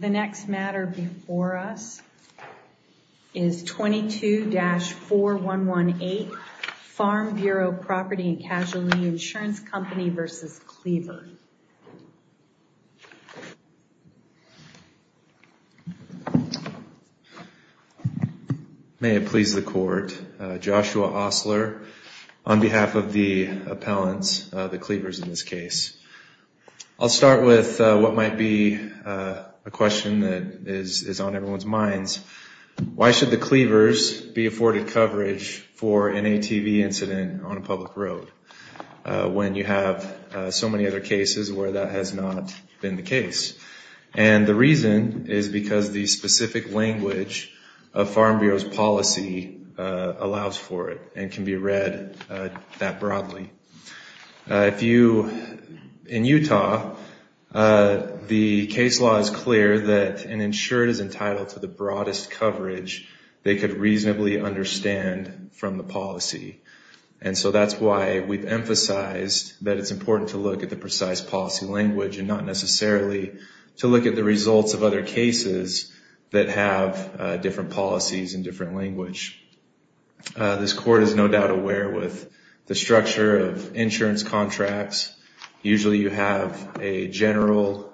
The next matter before us is 22-4118 Farm Bureau Property & Casualty Insurance Company v. Cleaver. May it please the court. Joshua Osler on behalf of the appellants, the Cleavers in this case. I'll start with what might be a question that is on everyone's minds. Why should the Cleavers be afforded coverage for an ATV incident on a public road when you have so many other cases where that has not been the case? And the reason is because the specific language of Farm Bureau's policy allows for it and can be read that broadly. In Utah, the case law is clear that an insured is entitled to the broadest coverage they could reasonably understand from the policy. And so that's why we've emphasized that it's important to look at the precise policy language and not the language. This court is no doubt aware with the structure of insurance contracts, usually you have a general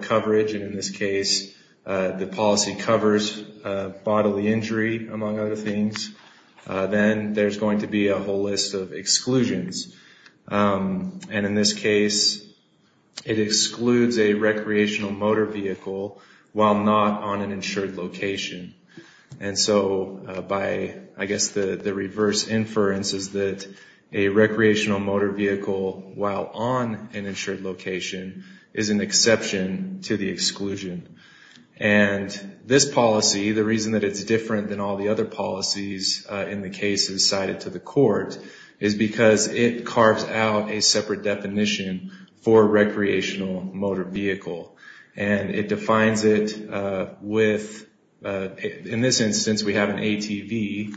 coverage, and in this case the policy covers bodily injury among other things. Then there's going to be a whole list of exclusions. And in this case, it excludes a recreational motor vehicle while not on an insured location. And so by, I guess, the reverse inference is that a recreational motor vehicle while on an insured location is an exception to the exclusion. And this policy, the reason that it's different than all the other policies in the cases cited to the court, is because it carves out a separate definition for recreational motor vehicle. And it defines it with, in this instance we have an ATV,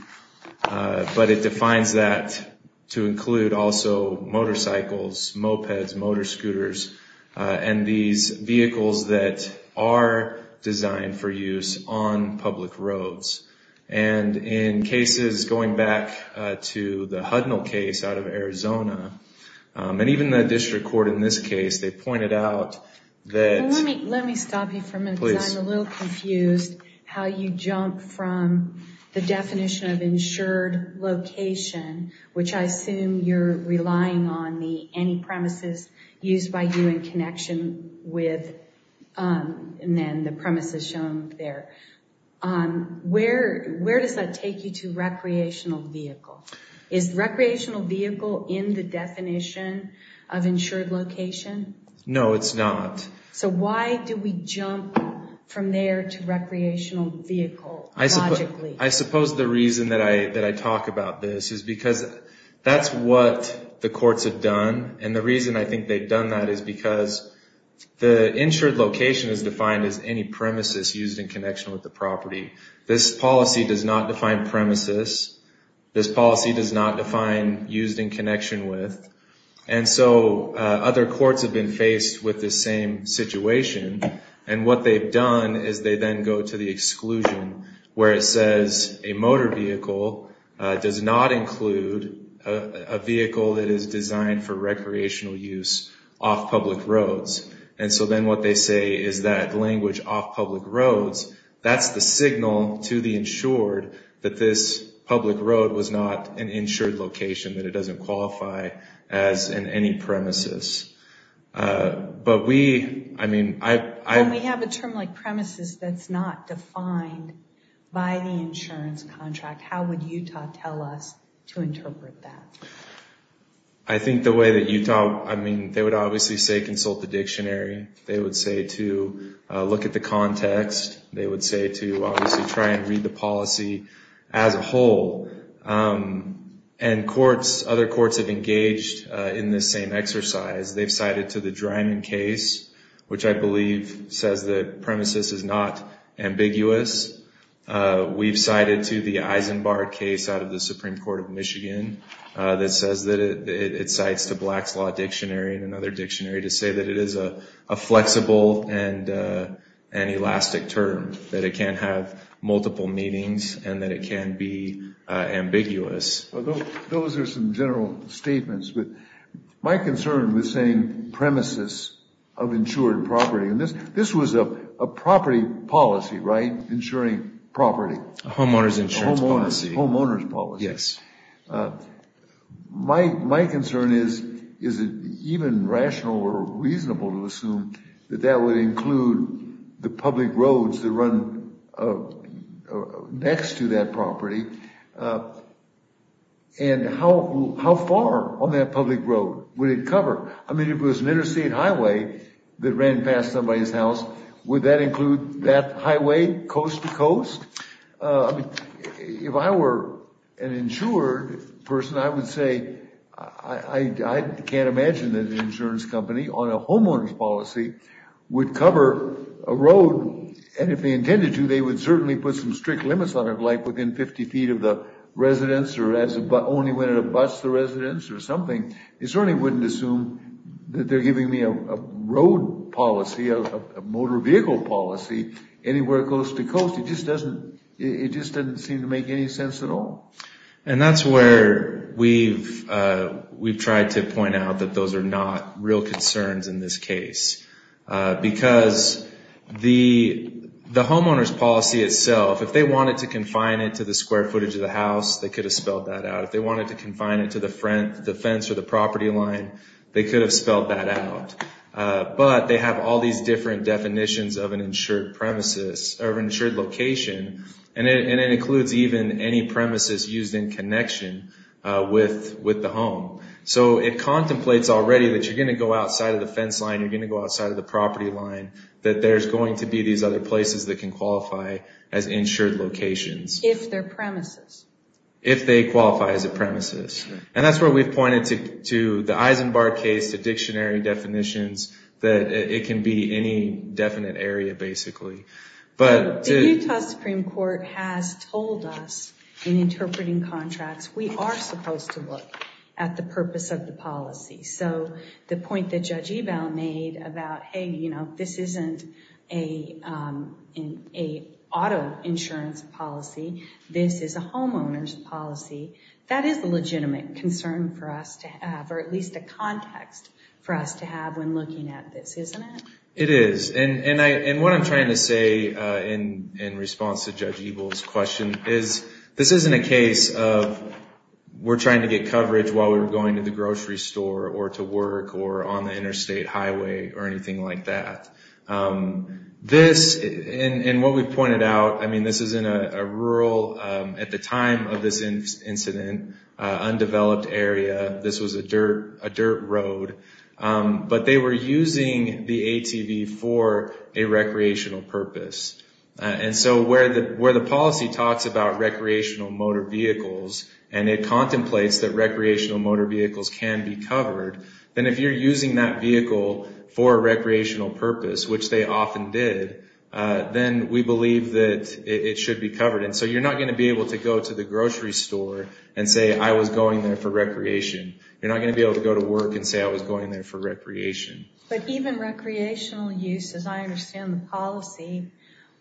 but it defines that to include also motorcycles, mopeds, motor scooters, and these vehicles that are designed for use on public roads. And in cases going back to the Hudnall case out of Arizona, and even the district court in this case, they pointed out that... Let me stop you for a minute because I'm a little confused how you jump from the definition of insured location, which I assume you're relying on the any premises used by you in connection with... And then the premises shown there. Where does that take you to recreational vehicle? Is recreational vehicle in the definition of insured location? No, it's not. So why do we jump from there to recreational vehicle logically? I suppose the reason that I talk about this is because that's what the courts have done. And the reason I think they've done that is because the insured location is defined as any premises used in connection with the property. This policy does not define premises. This policy does not define used in connection with. And so other courts have been faced with this same situation. And what they've done is they then go to the exclusion where it says a motor vehicle does not include a vehicle that is designed for recreational use off public roads. And so then what they say is that language off public roads, that's the signal to the insured that this public road was not an insured location, that it doesn't qualify as in any premises. But we, I mean, I... A term like premises that's not defined by the insurance contract. How would Utah tell us to interpret that? I think the way that Utah, I mean, they would obviously say consult the dictionary. They would say to look at the context. They would say to obviously try and read the policy as a whole. And courts, other courts have engaged in this same exercise. They've cited to the Dryman case, which I believe says that premises is not ambiguous. We've cited to the Eisenbar case out of the Supreme Court of Michigan that says that it cites the Black's Law Dictionary and another dictionary to say that it is a flexible and an elastic term, that it can have multiple meanings and that it can be ambiguous. Those are some general statements, but my concern with saying premises of insured property, and this was a property policy, right? Insuring property. Homeowner's insurance policy. Homeowner's policy. Yes. My concern is, is it even rational or reasonable to assume that that would include the public roads that run next to that property? And how far on that public road would it cover? I mean, if it was an interstate highway that ran past somebody's house, would that include that highway coast to coast? If I were an insured person, I would say, I can't imagine that an insurance company on a homeowner's policy would cover a road, and if they intended to, they would certainly put some strict limits on it, like within 50 feet of the residence or only when it abuts the residence or something. They certainly wouldn't assume that they're giving me a road policy, a motor vehicle policy, anywhere coast to coast. It just doesn't seem to make any sense at all. And that's where we've tried to point out that those are not real concerns in this case, because the homeowner's policy itself, if they wanted to confine it to the square footage of the house, they could have spelled that out. If they wanted to confine it to the front, the fence, or the property line, they could have spelled that out, but they have all these different definitions of an insured premises or insured location, and it includes even any premises used in connection with the home. So it contemplates already that you're going to go outside of the fence line, you're going to go outside of the property line, that there's going to be these other places that can qualify as insured locations. If they're premises. If they qualify as a premises. And that's where we've pointed to the Eisenbar case, the dictionary definitions, that it can be any definite area, basically. The Utah Supreme Court has told us in interpreting contracts, we are supposed to look at the purpose of the policy. So the point that Judge Ebell made about, hey, this isn't an auto insurance policy, this is a homeowner's policy, that is a legitimate concern for us to have, or at least a context for us to have when looking at this, isn't it? It is. And what I'm trying to say in response to Judge Ebell's question is, this isn't a case of we're trying to get coverage while we're going to the grocery store or to work or on the interstate highway or anything like that. This, and what we've pointed out, I mean, this is in a rural, at the time of this incident, undeveloped area. This was a dirt road. But they were using the ATV for a recreational purpose. And so where the policy talks about recreational motor vehicles, and it contemplates that recreational motor vehicles can be covered, then if you're using that vehicle for a recreational purpose, which they often did, then we believe that it should be covered. And so you're not going to be able to go to the grocery store and say, I was going there for recreation. You're not going to be able to go to work and say, I was going there for recreation. But even recreational use, as I understand the policy,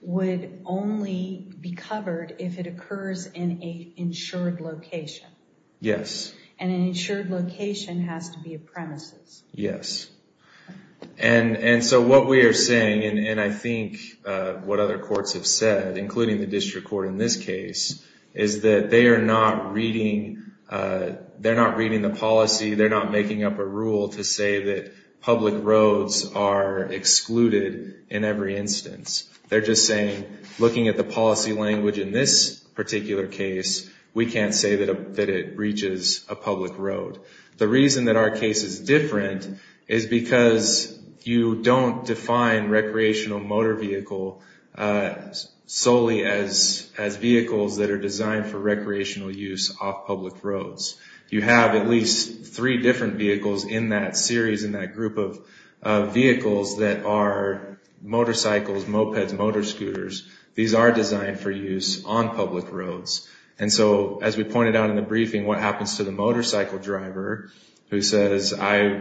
would only be covered if it occurs in an insured location. Yes. And an insured location has to be a premises. Yes. And so what we are saying, and I think what other courts have said, including the district court in this case, is that they are not reading, they're not reading the policy, they're not making up a rule to say that public roads are excluded in every instance. They're just saying, looking at the policy language in this particular case, we can't say that it reaches a public road. The reason that our case is different is because you don't define recreational motor vehicle solely as vehicles that are designed for recreational use off public roads. You have at least three different vehicles in that series, in that group of vehicles that are motorcycles, mopeds, motor scooters. These are designed for use on public roads. And so, as we pointed out in the briefing, what happens to the motorcycle driver who says, I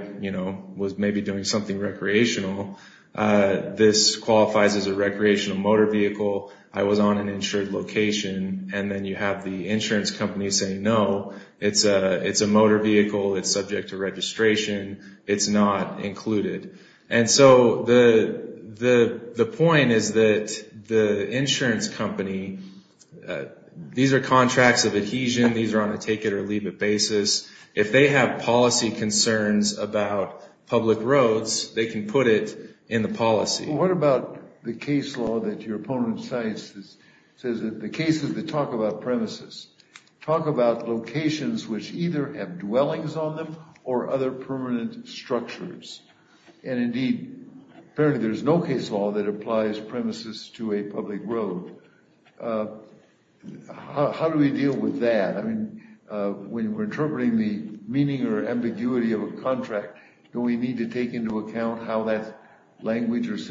was maybe doing something recreational. This qualifies as a recreational motor vehicle. I was on an insured location. And then you have the insurance company saying, no, it's a motor vehicle. It's subject to registration. It's not included. And so the point is that the insurance company, these are contracts of adhesion. These are on a take-it-or-leave-it basis. If they have policy concerns about public roads, they can put it in the policy. What about the case law that your opponent cites that says that the cases that talk about premises talk about locations which either have dwellings on them or other permanent structures? And indeed, apparently there's no case law that applies premises to a public road. How do we deal with that? I mean, when we're interpreting the meaning or ambiguity of a language that's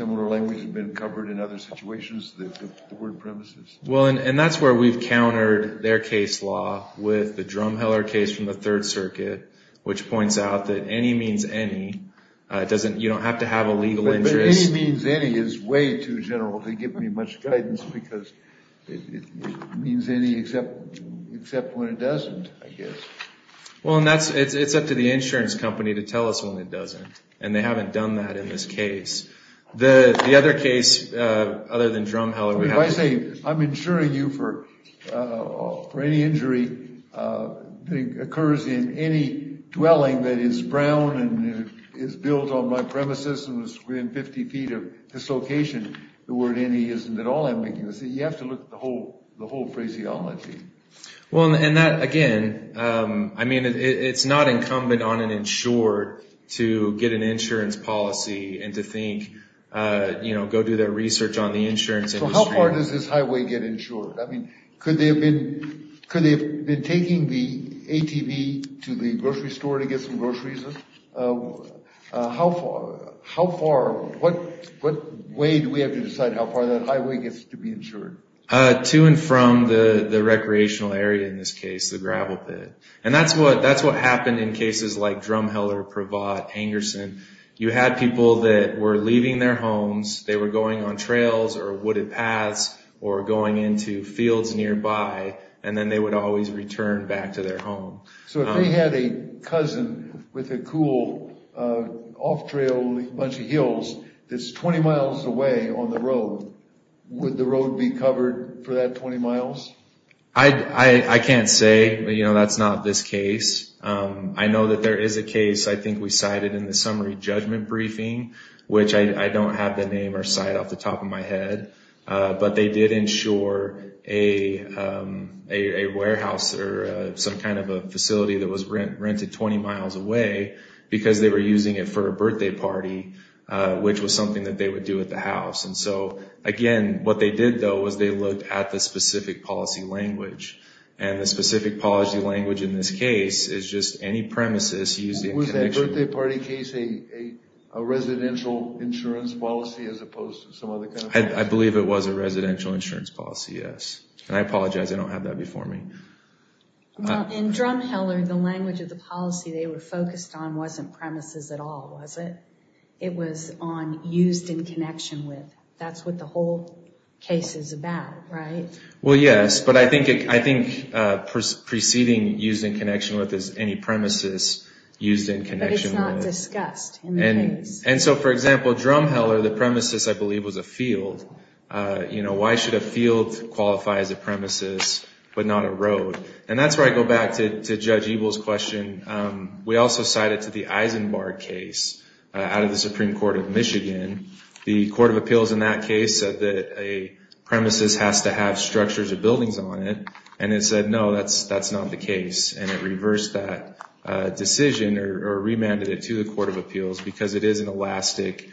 been covered in other situations, the word premises. Well, and that's where we've countered their case law with the Drumheller case from the Third Circuit, which points out that any means any. You don't have to have a legal interest. But any means any is way too general to give me much guidance because it means any except when it doesn't, I guess. Well, and it's up to the insurance company to tell us when it doesn't. They haven't done that in this case. The other case, other than Drumheller, we have... If I say I'm insuring you for any injury that occurs in any dwelling that is brown and is built on my premises and is within 50 feet of this location, the word any isn't at all ambiguous. You have to look at the whole phraseology. Well, and that, again, I mean, it's not incumbent on an insured to get an insurance policy and to think, you know, go do their research on the insurance industry. So how far does this highway get insured? I mean, could they have been taking the ATV to the grocery store to get some groceries? How far, what way do we have to decide how far that highway gets to be insured? To and from the recreational area in this case, the gravel pit. And that's what happened in cases like Drumheller, Pravat, Angerson. You had people that were leaving their homes, they were going on trails or wooded paths or going into fields nearby, and then they would always return back to their home. So if we had a cousin with a cool off-trail bunch of hills that's 20 miles away on the road, would the road be covered for that 20 miles? I can't say, you know, that's not this case. I know that there is a case, I think we cited in the summary judgment briefing, which I don't have the name or site off the top of my head. But they did insure a warehouse or some kind of a facility that was rented 20 miles away because they were using it for a birthday party, which was something that they would do at the Again, what they did, though, was they looked at the specific policy language. And the specific policy language in this case is just any premises used in connection with... Was that birthday party case a residential insurance policy as opposed to some other kind of policy? I believe it was a residential insurance policy, yes. And I apologize, I don't have that before me. In Drumheller, the language of the policy they were focused on wasn't premises at all, was it? It was on used in connection with. That's what the whole case is about, right? Well, yes. But I think preceding used in connection with is any premises used in connection with. But it's not discussed in the case. And so, for example, Drumheller, the premises, I believe, was a field. You know, why should a field qualify as a premises but not a road? And that's where I go back to Judge Ebel's question. The Court of Appeals in that case said that a premises has to have structures or buildings on it. And it said, no, that's not the case. And it reversed that decision or remanded it to the Court of Appeals because it is an elastic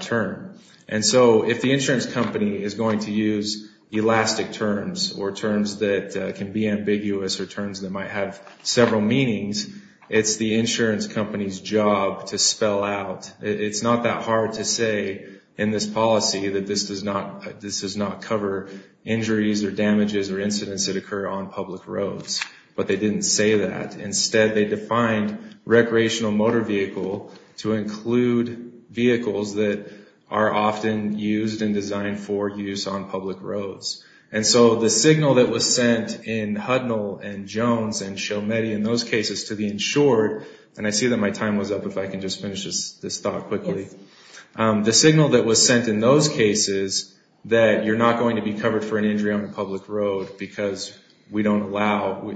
term. And so if the insurance company is going to use elastic terms or terms that can be ambiguous or terms that might have several meanings, it's the insurance company's job to spell out. It's not that hard to say in this policy that this does not, this does not cover injuries or damages or incidents that occur on public roads. But they didn't say that. Instead, they defined recreational motor vehicle to include vehicles that are often used and designed for use on public roads. And so the signal that was sent in Hudnall and Jones and Shometi in those cases to the insured, and I see that my time was up. If I can just finish this thought quickly. The signal that was sent in those cases that you're not going to be covered for an injury on a public road because we don't allow,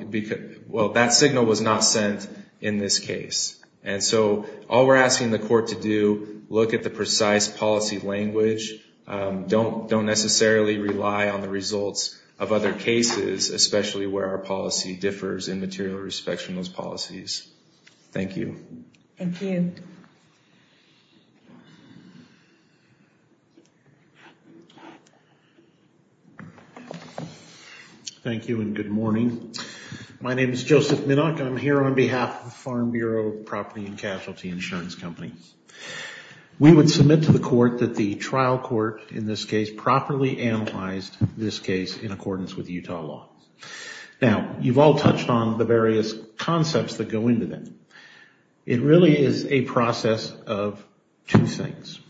well, that signal was not sent in this case. And so all we're asking the court to do, look at the precise policy language. Don't necessarily rely on the results of other cases, especially where our policy differs in material respects from those policies. Thank you. Thank you. Thank you and good morning. My name is Joseph Minock. I'm here on behalf of the Farm Bureau Property and Casualty Insurance Company. We would submit to the court that the trial court in this case properly analyzed this case in accordance with Utah law. Now, you've all touched on the various concepts that go into that. It really is a process of two things,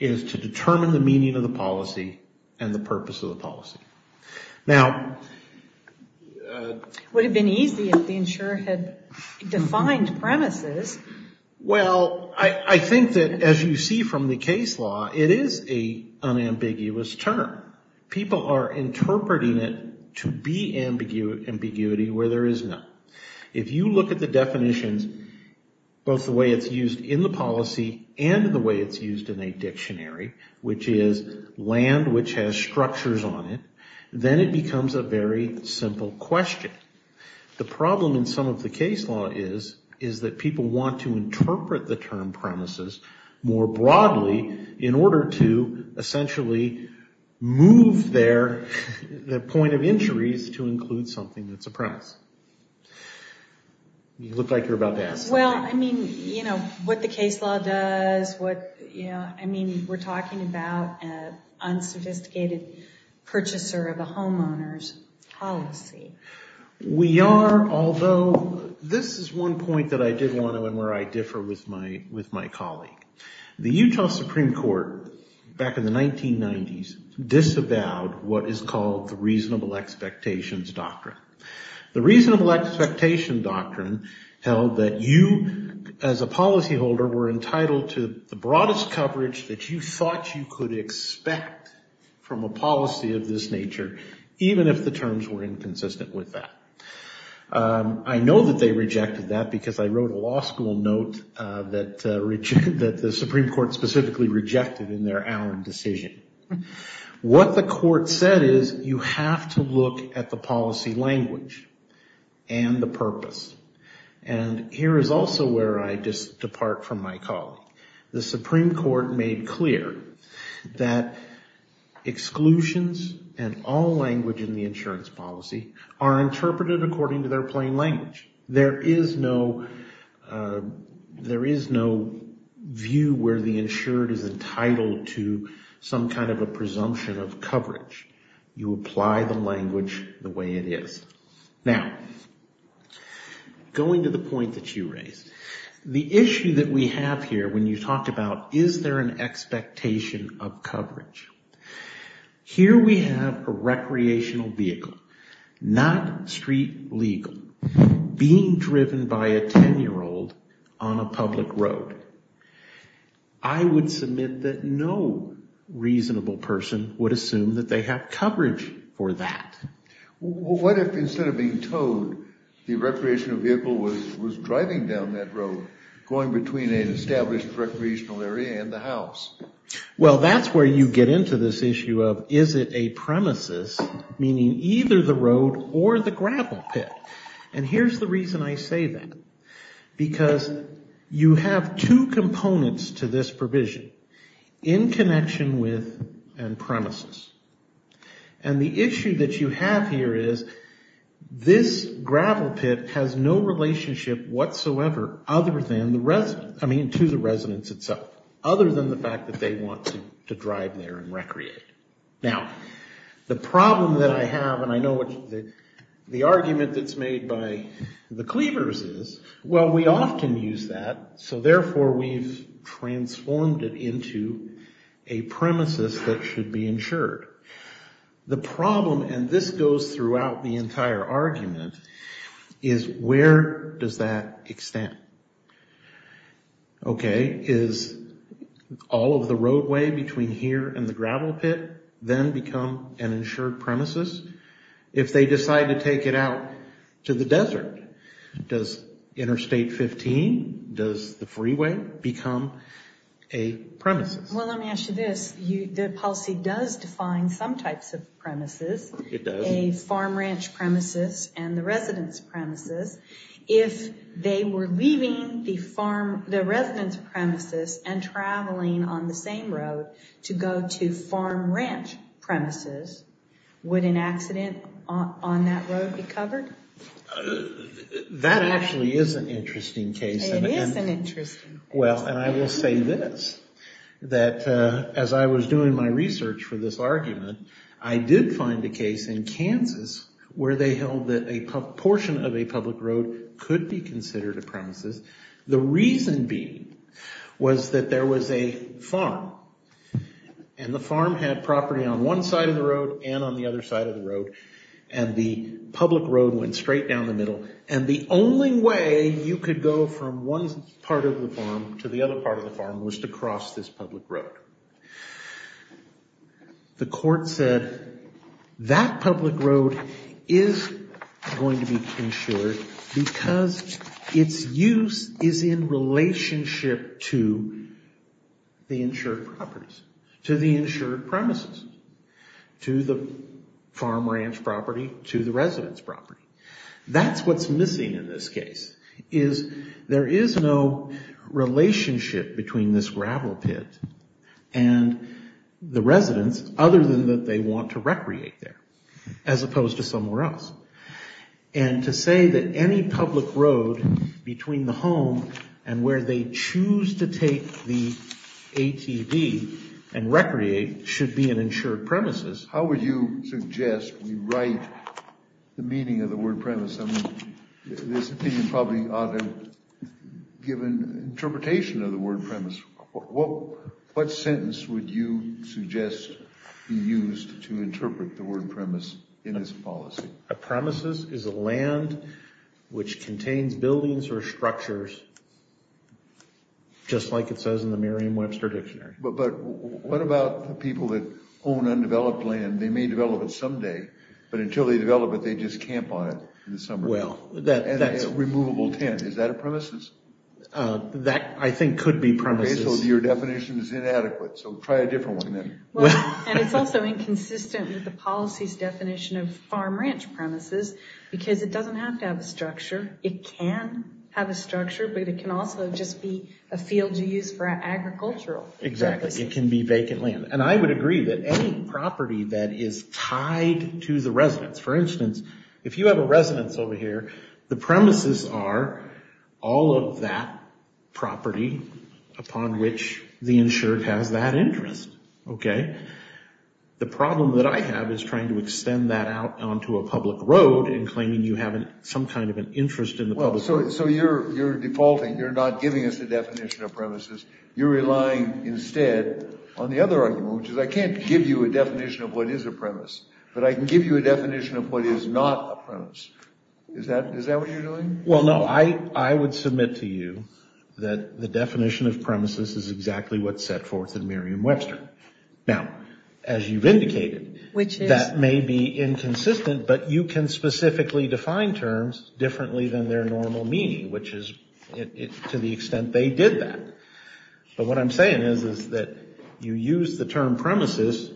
is to determine the meaning of the policy and the purpose of the policy. Now... Would have been easy if the insurer had defined premises. Well, I think that as you see from the case law, it is a unambiguous term. People are interpreting it to be ambiguity where there is none. If you look at the definitions, both the way it's used in the policy and the way it's used in a dictionary, which is land which has structures on it, then it becomes a very simple question. The problem in some of the case law is, is that people want to interpret the term premises more broadly in order to essentially move their point of injuries to include something that's a premise. You look like you're about to ask something. Well, I mean, you know, what the case law does, what, you know, I mean, we're talking about an unsophisticated purchaser of a homeowner's policy. We are, although this is one point that I did want to, and where I differ with my colleague. The Utah Supreme Court, back in the 1990s, disavowed what is called the reasonable expectations doctrine. The reasonable expectation doctrine held that you, as a policyholder, were entitled to the broadest coverage that you thought you could expect from a policy of this nature, even if the terms were inconsistent with that. I know that they rejected that because I wrote a law school note that the Supreme Court specifically rejected in their Allen decision. What the court said is you have to look at the policy language and the purpose. And here is also where I just depart from my colleague. The Supreme Court made clear that exclusions and all language in the insurance policy are interpreted according to their plain language. There is no view where the insured is entitled to some kind of a presumption of coverage. You apply the language the way it is. Now, going to the point that you raised, the issue that we have here when you talk about is there an expectation of coverage? Here we have a recreational vehicle, not street legal. Being driven by a 10-year-old on a public road. I would submit that no reasonable person would assume that they have coverage for that. What if instead of being towed, the recreational vehicle was driving down that road, going between an established recreational area and the house? Well, that's where you get into this issue of is it a premises, meaning either the road or the gravel pit. And here's the reason I say that. Because you have two components to this provision in connection with and premises. And the issue that you have here is this gravel pit has no relationship whatsoever other than the residents, I mean to the residents itself, other than the fact that they want to drive there and recreate. Now, the problem that I have, and I know what the argument that's made by the Cleavers is, well, we often use that. So therefore, we've transformed it into a premises that should be insured. The problem, and this goes throughout the entire argument, is where does that extend? Okay, is all of the roadway between here and the gravel pit then become an insured premises? If they decide to take it out to the desert, does Interstate 15, does the freeway become a premises? Well, let me ask you this. The policy does define some types of premises. It does. A farm ranch premises and the residence premises. If they were leaving the farm, the residence premises and traveling on the same road to go to farm ranch premises, would an accident on that road be covered? That actually is an interesting case. It is an interesting case. Well, and I will say this, that as I was doing my research for this argument, I did find a case in Kansas where they held that a portion of a public road could be considered a premises. The reason being was that there was a farm, and the farm had property on one side of the road and on the other side of the road, and the public road went straight down the middle, and the only way you could go from one part of the farm to the other part of the farm was to cross this public road. The court said that public road is going to be insured because its use is in relationship to the insured properties, to the insured premises, to the farm ranch property, to the residence property. That's what's missing in this case, is there is no relationship between this gravel pit and the residence other than that they want to recreate there, as opposed to somewhere else. And to say that any public road between the home and where they choose to take the ATB and recreate should be an insured premises. How would you suggest we write the meaning of the word premise? I mean, this opinion probably ought to have given interpretation of the word premise. What sentence would you suggest be used to interpret the word premise in this policy? A premises is a land which contains buildings or structures, just like it says in the Merriam-Webster Dictionary. But what about the people that own undeveloped land? They may develop it someday, but until they develop it, they just camp on it in the summer. Well, that's... And a removable tent, is that a premises? Uh, that I think could be premises. Okay, so your definition is inadequate, so try a different one then. And it's also inconsistent with the policy's definition of farm-ranch premises, because it doesn't have to have a structure. It can have a structure, but it can also just be a field you use for agricultural purposes. Exactly, it can be vacant land. And I would agree that any property that is tied to the residence, for instance, if you have a residence over here, the premises are all of that property upon which the insured has that interest, okay? The problem that I have is trying to extend that out onto a public road and claiming you have some kind of an interest in the public road. So you're defaulting. You're not giving us the definition of premises. You're relying instead on the other argument, which is I can't give you a definition of what is a premise, but I can give you a definition of what is not a premise. Is that what you're doing? Well, no, I would submit to you that the definition of premises is exactly what's set forth in Merriam-Webster. Now, as you've indicated, that may be inconsistent, but you can specifically define terms differently than their normal meaning, which is to the extent they did that. But what I'm saying is that you use the term premises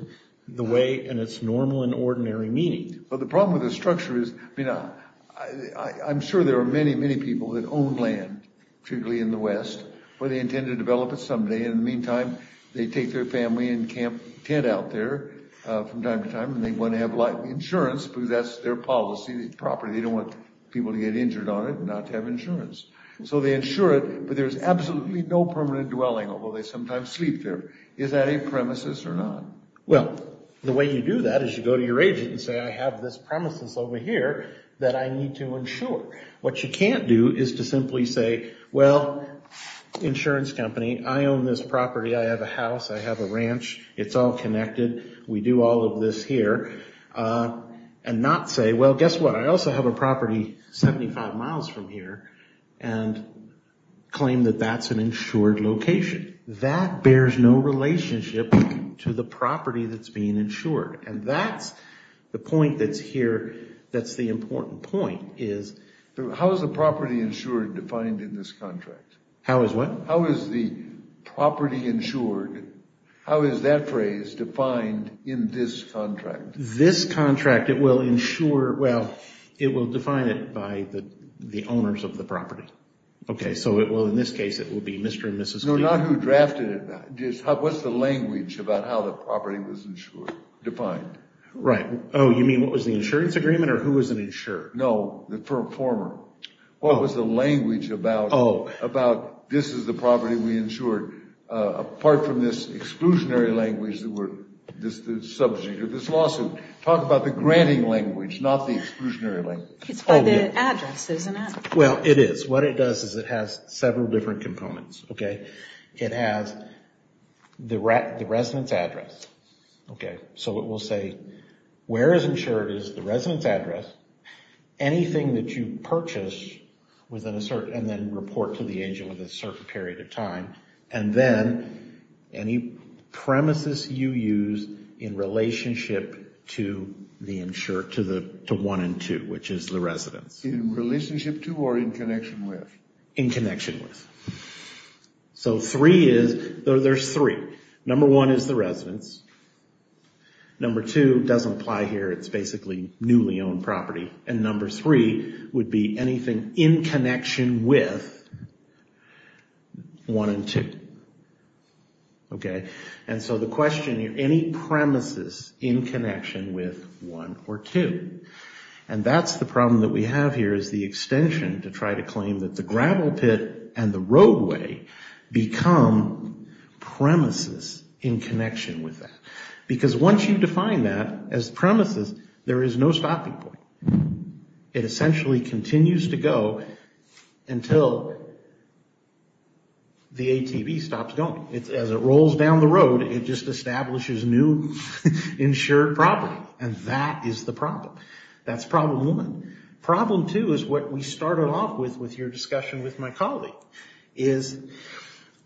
the way in its normal and ordinary meaning. But the problem with the structure is, I mean, I'm sure there are many, many people that own land, particularly in the West, where they intend to develop it someday. In the meantime, they take their family and camp tent out there from time to time, and they want to have insurance because that's their policy, their property. They don't want people to get injured on it and not to have insurance. So they insure it, but there's absolutely no permanent dwelling, although they sometimes sleep there. Is that a premises or not? Well, the way you do that is you go to your agent and say, I have this premises over here that I need to insure. What you can't do is to simply say, well, insurance company, I own this property. I have a house. I have a ranch. It's all connected. We do all of this here. And not say, well, guess what? I also have a property 75 miles from here, and claim that that's an insured location. That bears no relationship to the property that's being insured. And that's the point that's here. That's the important point is. How is the property insured defined in this contract? How is what? How is the property insured? How is that phrase defined in this contract? This contract, it will insure, well, it will define it by the owners of the property. Okay, so it will, in this case, it will be Mr. and Mrs. No, not who drafted it. What's the language about how the property was insured, defined? Right. Oh, you mean what was the insurance agreement, or who was an insurer? No, the former. What was the language about, about this is the property we insured, apart from this exclusionary language that we're, this subject of this lawsuit. Talk about the granting language, not the exclusionary language. It's by the address, isn't it? Well, it is. What it does is it has several different components. Okay, it has the resident's address. Okay, so it will say where is insured is the resident's address, anything that you purchase within a certain, and then report to the agent within a certain period of time, and then any premises you use in relationship to the insured, to the one and two, which is the residence. In relationship to, or in connection with? In connection with. So three is, there's three. Number one is the residence. Number two doesn't apply here. It's basically newly owned property. And number three would be anything in connection with one and two. Okay, and so the question here, any premises in connection with one or two. And that's the problem that we have here, is the extension to try to claim that the gravel pit and the roadway become premises in connection with that. Because once you define that as premises, there is no stopping point. It essentially continues to go until the ATV stops going. As it rolls down the road, it just establishes new insured property. And that is the problem. That's problem one. Problem two is what we started off with, with your discussion with my colleague, is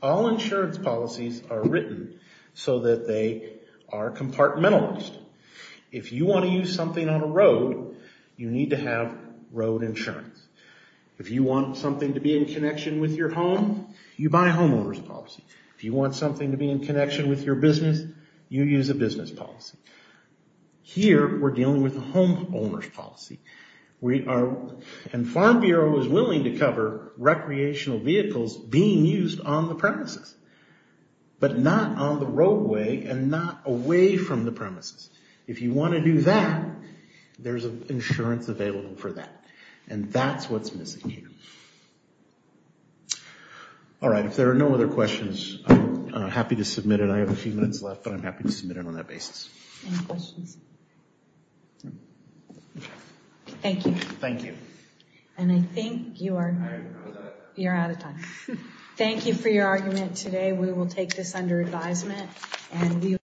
all insurance policies are written so that they are compartmentalized. If you want to use something on a road, you need to have road insurance. If you want something to be in connection with your home, you buy a homeowner's policy. If you want something to be in connection with your business, you use a business policy. And Farm Bureau is willing to cover recreational vehicles being used on the premises, but not on the roadway and not away from the premises. If you want to do that, there's insurance available for that. And that's what's missing here. All right, if there are no other questions, I'm happy to submit it. I have a few minutes left, but I'm happy to submit it on that basis. Any questions? Thank you. Thank you. And I think you are out of time. Thank you for your argument today. We will take this under advisement.